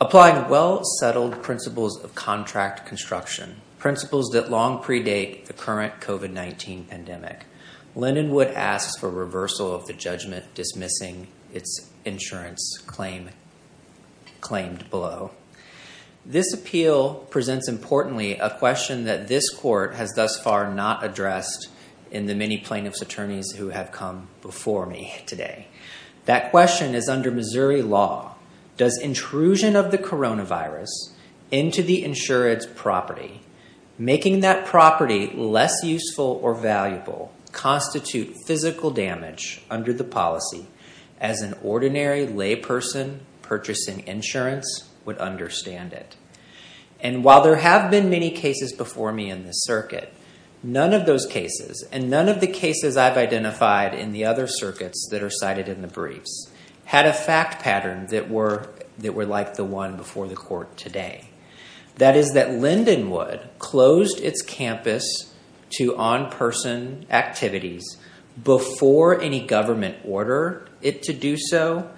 Applying well-settled principles of contract construction, principles that long predate the current COVID-19 pandemic, Lindenwood asks for reversal of the judgment dismissing its insurance claim claimed below. This appeal presents importantly a question that this court has thus far not addressed in the many plaintiffs' attorneys who have come before me today. That question is under Missouri law. Does intrusion of the coronavirus into the insurance property, making that property less useful or valuable constitute physical damage under the policy as an ordinary layperson purchasing insurance would understand it? And while there have been many cases before me in this circuit, none of those cases and none of the cases I've identified in the other circuits that are cited in the briefs had a fact pattern that were like the one before the court today. That is that Lindenwood closed its campus to on-person activities before any government order it to do so,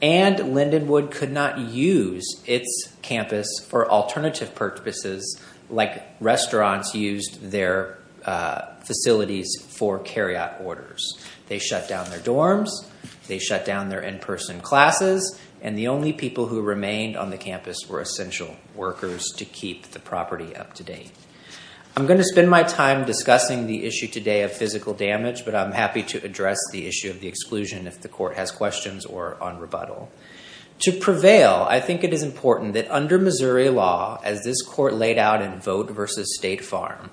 and Lindenwood could not use its campus for alternative purposes like restaurants used their facilities for carry-out and the only people who remained on the campus were essential workers to keep the property up to date. I'm going to spend my time discussing the issue today of physical damage, but I'm happy to address the issue of the exclusion if the court has questions or on rebuttal. To prevail, I think it is important that under Missouri law, as this court laid out in Vote versus State Farm,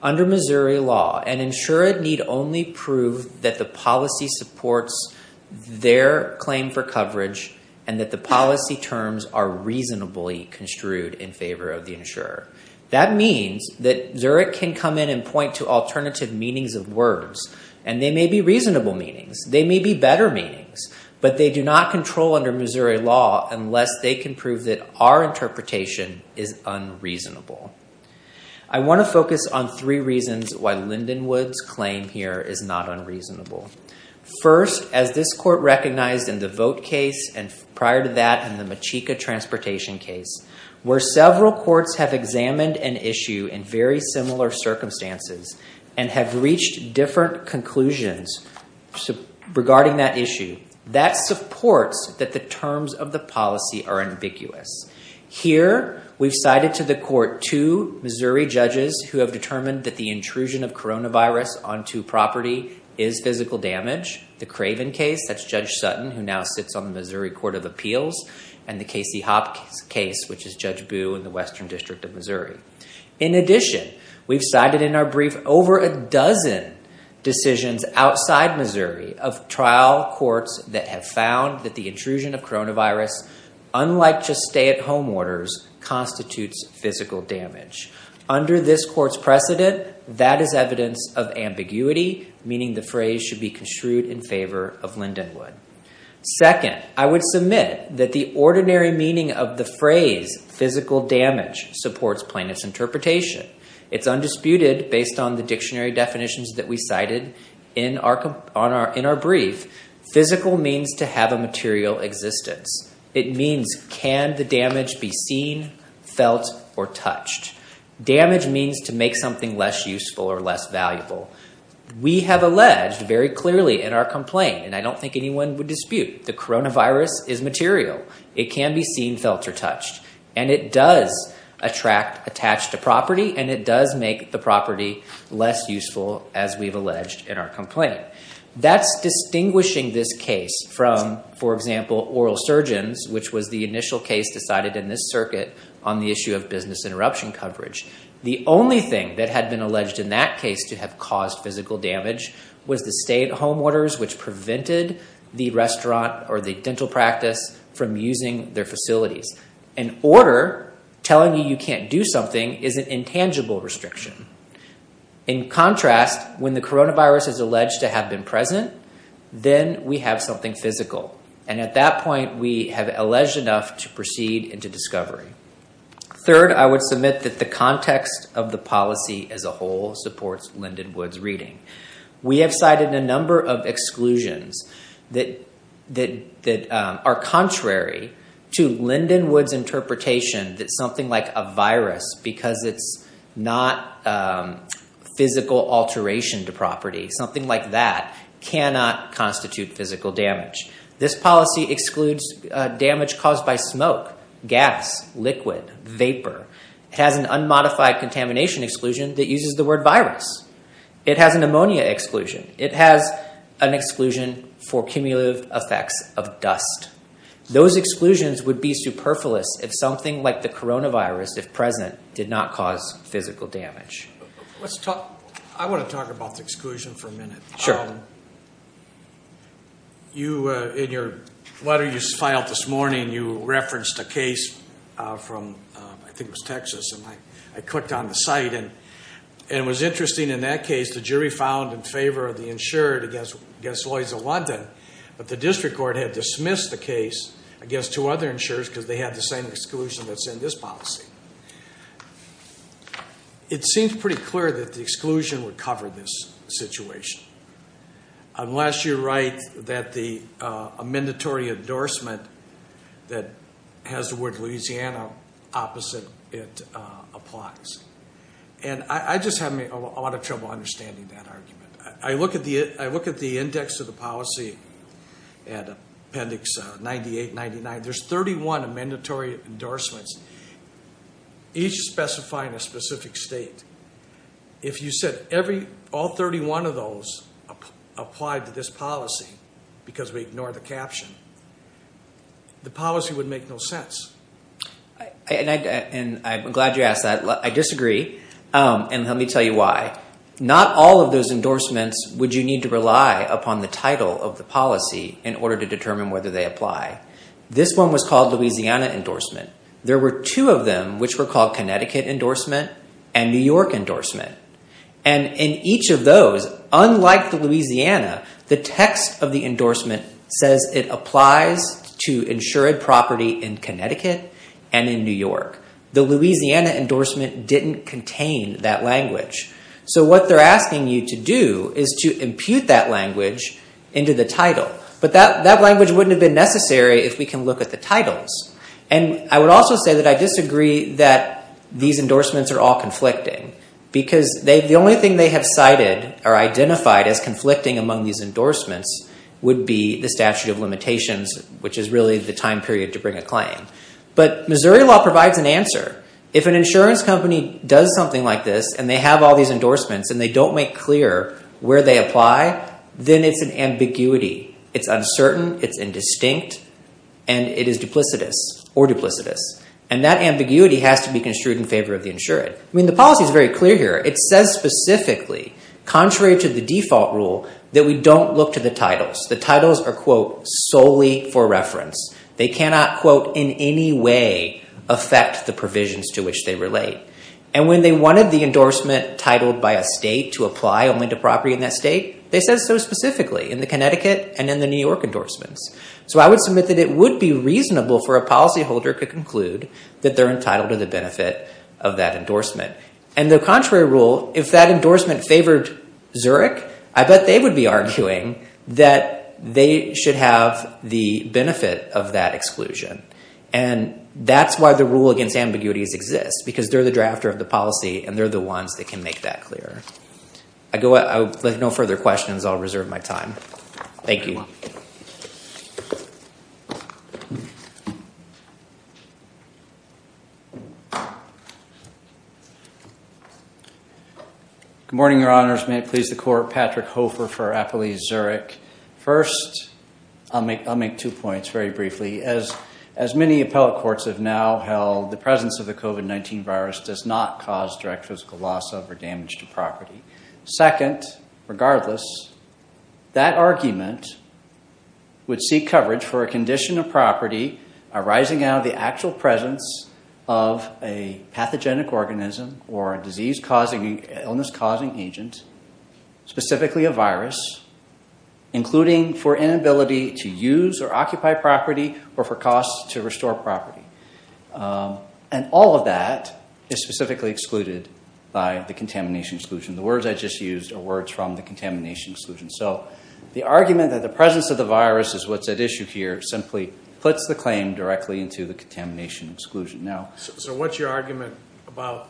under Missouri law and ensure it need only prove that the policy supports their claim for coverage and that the policy terms are reasonably construed in favor of the insurer. That means that Zurich can come in and point to alternative meanings of words, and they may be reasonable meanings, they may be better meanings, but they do not control under Missouri law unless they can prove that our interpretation is unreasonable. I want to focus on three reasons why Lindenwood's claim here is not unreasonable. First, as this court recognized in the Vote case and prior to that in the Machika Transportation case, where several courts have examined an issue in very similar circumstances and have reached different conclusions regarding that issue, that supports that the terms of the policy are ambiguous. Here, we've cited to the court two Missouri judges who have determined that the intrusion of coronavirus onto property is physical damage. The Craven case, that's Judge Sutton, who now sits on the Missouri Court of Appeals, and the Casey-Hopp case, which is Judge Boo in the Western District of Missouri. In addition, we've cited in our brief over a dozen decisions outside Missouri of trial courts that have found that the intrusion of coronavirus, unlike just stay-at-home orders, constitutes physical damage. Under this court's precedent, that is evidence of ambiguity, meaning the phrase should be construed in favor of Lindenwood. Second, I would submit that the ordinary meaning of the phrase physical damage supports Plaintiff's interpretation. It's undisputed, based on the dictionary definitions that we cited in our brief, physical means to have a material existence. It means can the damage be seen, felt, or touched? Damage means to make something less useful or less valuable. We have alleged very clearly in our complaint, and I don't think anyone would dispute, the coronavirus is material. It can be seen, felt, or touched. It does attract, attach to property, and it does make the property less useful, as we've alleged in our complaint. That's distinguishing this case from, for example, oral surgeons, which was the initial case decided in this circuit on the issue of business interruption coverage. The only thing that had been alleged in that case to have caused physical damage was the stay-at-home orders, which prevented the restaurant or the dental practice from using their facilities. An order telling you you can't do something is an intangible restriction. In contrast, when the coronavirus is alleged to have been present, then we have something physical. At that point, we have alleged enough to proceed into discovery. Third, I would submit that the context of the policy as a whole supports Lindenwood's reading. We have cited a number of exclusions that are contrary to Lindenwood's interpretation that a virus, because it's not a physical alteration to property, cannot constitute physical damage. This policy excludes damage caused by smoke, gas, liquid, vapor. It has an unmodified contamination exclusion that uses the word virus. It has an ammonia exclusion. It has an exclusion for cumulative effects of dust. Those exclusions would be superfluous if something like coronavirus, if present, did not cause physical damage. I want to talk about the exclusion for a minute. In your letter you filed this morning, you referenced a case from, I think it was Texas, and I clicked on the site. It was interesting, in that case, the jury found in favor of the insured against Lloyd's of London, but the district court had dismissed the case against two other insurers because they had the same exclusion that's in this policy. It seems pretty clear that the exclusion would cover this situation, unless you're right that the mandatory endorsement that has the word Louisiana opposite it applies. I just had a lot of trouble understanding that argument. I look at the index of the policy and appendix 98, 99, there's 31 mandatory endorsements, each specifying a specific state. If you said all 31 of those applied to this policy because we ignore the caption, the policy would make no sense. I'm glad you asked that. I disagree. Let me tell you why. Not all of those endorsements would you need to rely upon the title of the policy in order to determine whether they apply. This one was called Louisiana endorsement. There were two of them which were called Connecticut endorsement and New York endorsement. In each of those, unlike the Louisiana, the text of the endorsement says it applies to insured property in Connecticut and in New York. The Louisiana endorsement didn't contain that language. What they're asking you to do is to impute that language into the title. That language wouldn't have been necessary if we can look at the titles. I would also say that I disagree that these endorsements are all conflicting because the only thing they have cited or identified as conflicting among these endorsements would be the statute of limitations which is really the time period to bring a claim. Missouri law provides an answer. If an insurance company does something like this and they have all these endorsements and they don't make clear where they apply, then it's an ambiguity. It's uncertain. It's indistinct. It is duplicitous or duplicitous. That ambiguity has to be construed in favor of the insured. The policy is very clear here. It says specifically, contrary to the default rule, that we don't look to the titles. The titles are, quote, solely for reference. They cannot, quote, in any way affect the provisions to which they relate. When they wanted the endorsement titled by a state to apply only to property in that state, they said so specifically in the Connecticut and in the New York endorsements. I would submit that it would be reasonable for a policyholder to conclude that they're entitled to the benefit of that endorsement. The contrary rule, if that endorsement favored Zurich, I bet they would be arguing that they should have the benefit of that exclusion. That's why the rule against ambiguities exists because they're the drafter of the policy and they're the ones that can make that clear. With no further questions, I'll reserve my time. Thank you. Good morning, your honors. May it please the court, Patrick Hofer for Appalachia Zurich. First, I'll make two points very briefly. As many appellate courts have now held, the presence of the COVID-19 virus does not cause direct physical loss of or damage to property. Second, regardless, that argument would seek coverage for a condition of property arising out of the actual presence of a pathogenic organism or a disease-causing, illness-causing agent, specifically a virus, including for inability to use or occupy property or for costs to restore property. And all of that is specifically excluded by the words from the contamination exclusion. So the argument that the presence of the virus is what's at issue here simply puts the claim directly into the contamination exclusion. So what's your argument about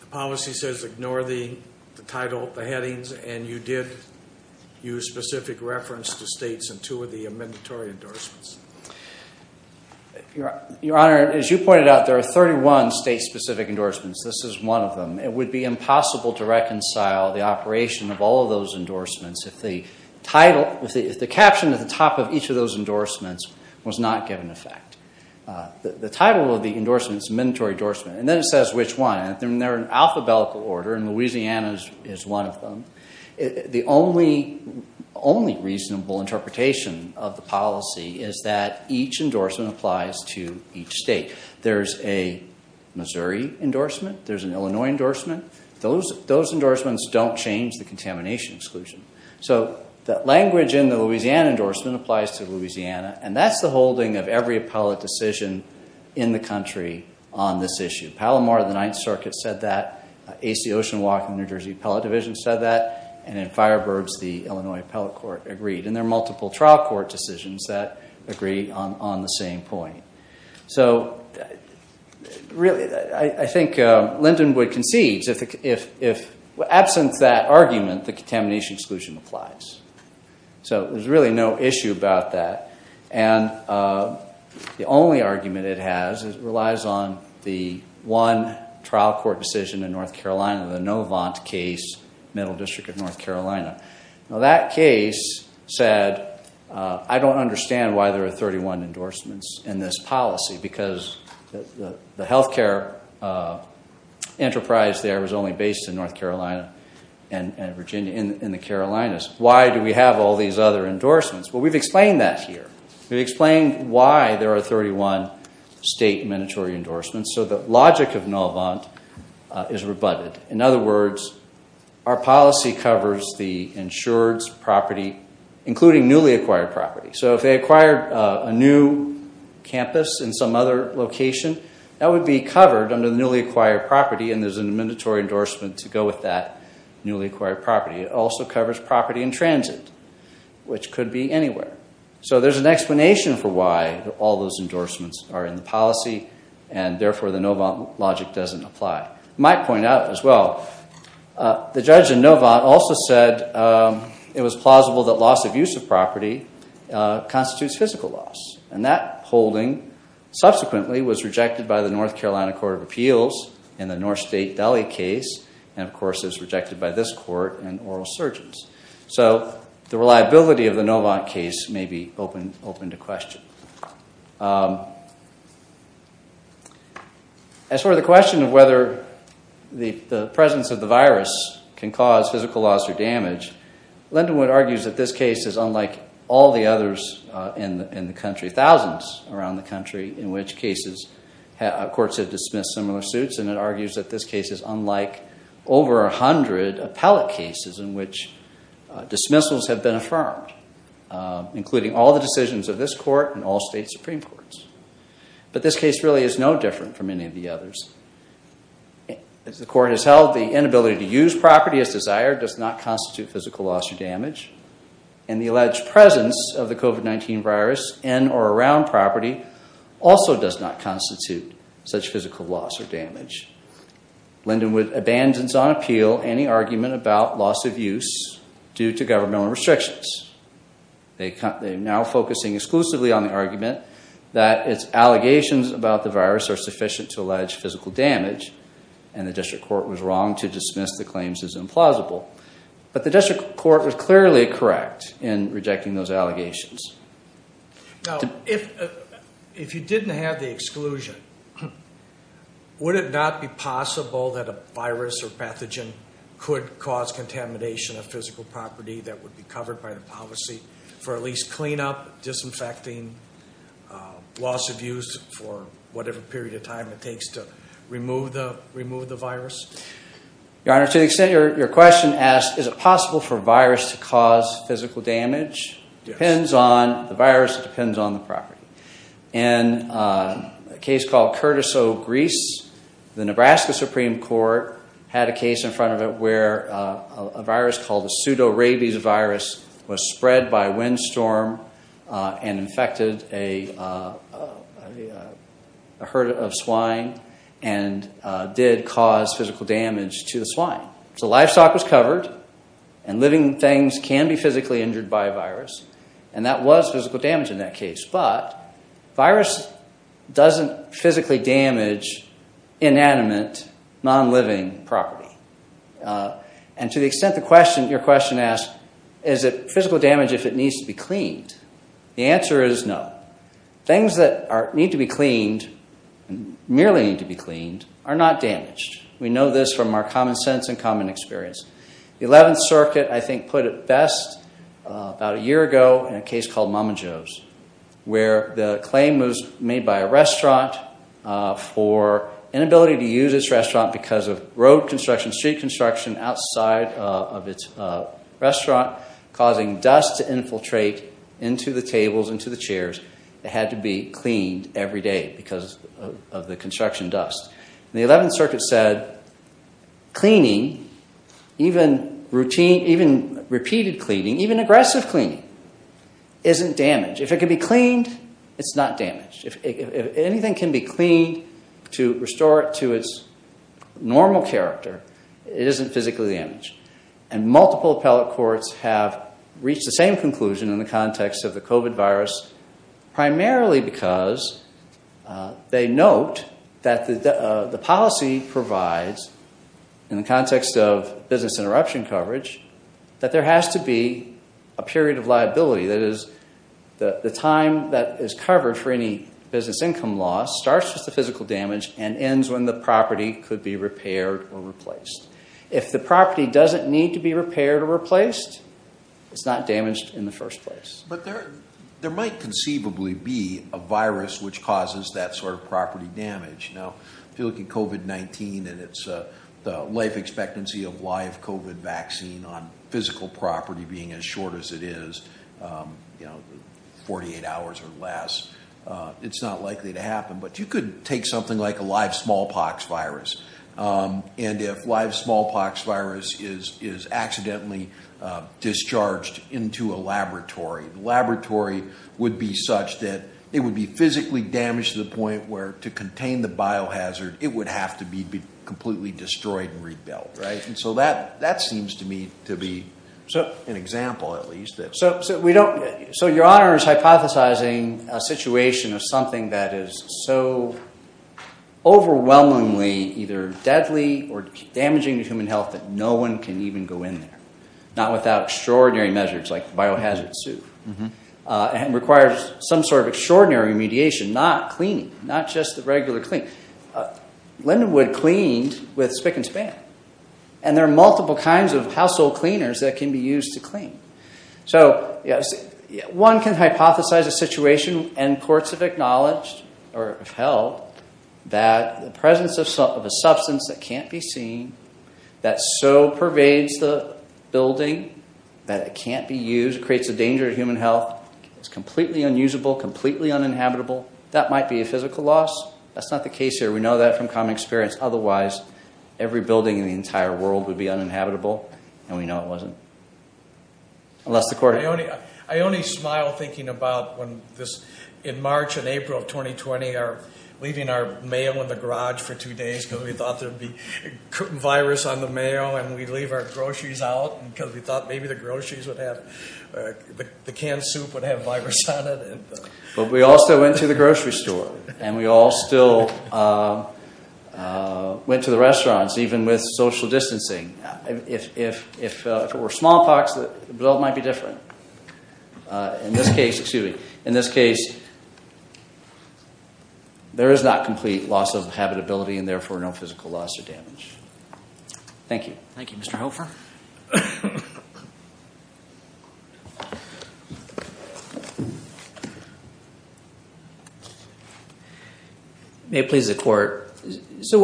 the policy says ignore the title, the headings, and you did use specific reference to states in two of the mandatory endorsements? Your honor, as you pointed out, there are 31 state-specific endorsements. This is one of them. It would be impossible to reconcile the operation of all of those endorsements if the title, if the caption at the top of each of those endorsements was not given effect. The title of the endorsement is mandatory endorsement, and then it says which one, and they're in alphabetical order, and Louisiana is one of them. The only reasonable interpretation of the policy is that each endorsement applies to each state. There's a Missouri endorsement. There's an Illinois endorsement. Those endorsements don't change the contamination exclusion. So that language in the Louisiana endorsement applies to Louisiana, and that's the holding of every appellate decision in the country on this issue. Palomar, the Ninth Circuit said that. A.C. Oceanwalk and the New Jersey Appellate Division said that, and in Firebirds, the Illinois Appellate Court agreed. And there are multiple trial court decisions that agree on the same point. So really, I think Lindenwood concedes if, absent that argument, the contamination exclusion applies. So there's really no issue about that, and the only argument it has is it relies on the one trial court decision in North Carolina, the Novant case, Middle District of North Carolina. Now that case said, I don't understand why there are 31 endorsements in this policy because the health care enterprise there was only based in North Carolina and Virginia, in the Carolinas. Why do we have all these other endorsements? Well, we've explained that here. We've explained why there are 31 state mandatory endorsements, so the logic of Novant is rebutted. In other words, our policy covers the insured's property, including newly acquired property. So if they acquired a new campus in some other location, that would be covered under the newly acquired property, and there's a mandatory endorsement to go with that newly acquired property. It also covers property in transit, which could be anywhere. So there's an explanation for why all those endorsements are in the policy and therefore the Novant logic doesn't apply. I might point out as well, the judge in Novant also said it was plausible that loss of use of property constitutes physical loss, and that holding subsequently was rejected by the North Carolina Court of Appeals in the North State Delhi case, and of course is rejected by this court and oral surgeons. So the reliability of the Novant case may be open to question. As for the question of whether the presence of the virus can cause physical loss or damage, Lindenwood argues that this case is unlike all the others in the country, thousands around the country, in which cases courts have dismissed similar suits, and it argues that this case is unlike over 100 appellate cases in which dismissals have been affirmed, including all the decisions of this court and all state supreme courts. But this case really is no different from any of the others. As the court has held, the inability to use property as desired does not constitute physical loss or damage, and the alleged presence of the COVID-19 virus in or around property also does not constitute such physical loss or damage. Lindenwood abandons on appeal any argument about loss of use due to governmental restrictions. They are now focusing exclusively on the argument that its allegations about the virus are sufficient to allege physical damage, and the district court was wrong to dismiss the claims as implausible. But the district court was clearly correct in rejecting those allegations. Now, if you didn't have the exclusion, would it not be possible that a virus or pathogen could cause contamination of physical property that would be covered by the policy for at least cleanup, disinfecting, loss of use for whatever period of time it takes to remove the virus? Your Honor, to the extent your question asks, is it possible for a virus to cause physical damage, it depends on the virus, it depends on the property. In a case called Curtis O. Reese, the Nebraska Supreme Court had a case in front of it where a virus called the pseudo-rabies virus was spread by windstorm and infected a herd of swine and did cause physical damage to the swine. So livestock was covered, and living things can be physically injured by a virus, and that was physical damage in that case. But virus doesn't physically damage inanimate, non-living property. And to the extent your question asks, is it physical damage if it needs to be cleaned? The answer is no. Things that need to be cleaned, merely need to be cleaned, are not damaged. We know this from our common sense and common experience. The 11th Circuit, I think, put it best about a year ago in a case called Mama Jo's, where the claim was made by a restaurant for inability to use its restaurant because of road construction, street construction outside of its restaurant, causing dust to infiltrate into the tables, into the chairs. It had to be cleaned every day because of the construction dust. The 11th Circuit said cleaning, even repeated cleaning, even aggressive cleaning, isn't damaged. If it can be cleaned, it's not damaged. If anything can be cleaned to restore it to its normal character, it isn't physically damaged. And multiple appellate courts have reached the same conclusion in the context of the COVID virus, primarily because they note that the policy provides, in the context of business interruption coverage, that there has to be a period of liability. That is, the time that is covered for any business income loss starts with the physical damage and ends when the property could be repaired or replaced. If the property doesn't need to be repaired or replaced, it's not damaged in the first place. But there might conceivably be a virus which causes that sort of property damage. Now, if you look at COVID-19 and it's the life expectancy of live COVID vaccine on physical property being as short as it is, you know, 48 hours or less, it's not likely to happen. But you could take something like a live smallpox virus, and if live smallpox virus is accidentally discharged into a laboratory, the laboratory would be such that it would be physically damaged to the point where to contain the biohazard, it would have to be completely destroyed and rebuilt, right? And so that seems to me to be an example, at least. So your honor is hypothesizing a situation of something that is so overwhelmingly either deadly or damaging to human health that no one can even go in there, not without extraordinary measures like biohazard suit, and requires some sort of extraordinary mediation, not cleaning, not just the regular clean. Lindenwood cleaned with spic and span. And there are multiple kinds of household cleaners that can be used to clean. So yes, one can hypothesize a situation, and courts have acknowledged or have held, that the presence of some of a substance that can't be seen, that so pervades the building, that it can't be used, creates a danger to human health, is completely unusable, completely uninhabitable, that might be a physical loss. That's not the case here. We know that from common experience. Otherwise, every building in the entire world would be uninhabitable, and we know it wasn't. I only smile thinking about when this, in March and April of 2020, are leaving our mail in the garage for two days, because we thought there'd be virus on the mail, and we'd leave our groceries out, because we thought maybe the groceries would have, the canned soup would have virus on it. But we also went to the grocery store, and we all still went to the restaurants, even with social distancing. If it were smallpox, the build might be different. In this case, excuse me, in this case, there is not complete loss of habitability, and therefore no physical loss or damage. Thank you. Thank you, Mr. Hofer. May it please the court.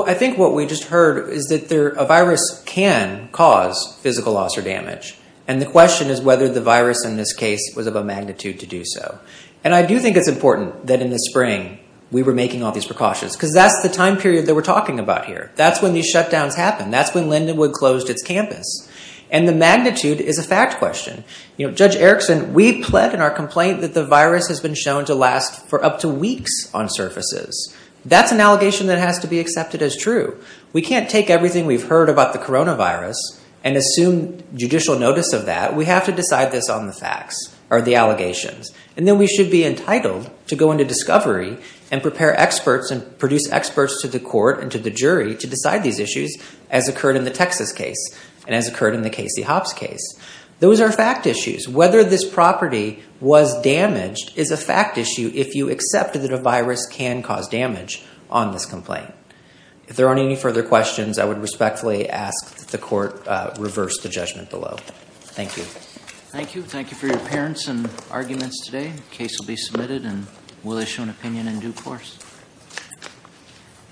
I think what we just heard is that a virus can cause physical loss or damage, and the question is whether the virus in this case was of a magnitude to do so. And I do think it's important that in the spring, we were making all these precautions, because that's the time period that we're talking about here. That's when these shutdowns happened. That's when Lindenwood closed its campus. And the magnitude is a fact question. Judge Erickson, we pled in our complaint that the virus has been shown to last for up to weeks on surfaces. That's an allegation that has to be accepted as true. We can't take everything we've heard about the coronavirus and assume judicial notice of that. We have to decide this on the facts, or the allegations. And then we should be entitled to go into discovery and prepare experts and the jury to decide these issues, as occurred in the Texas case, and as occurred in the Casey Hopps case. Those are fact issues. Whether this property was damaged is a fact issue if you accept that a virus can cause damage on this complaint. If there aren't any further questions, I would respectfully ask that the court reverse the judgment below. Thank you. Thank you. Thank you for your appearance and arguments today. Case will be submitted, and we'll issue an opinion in due course.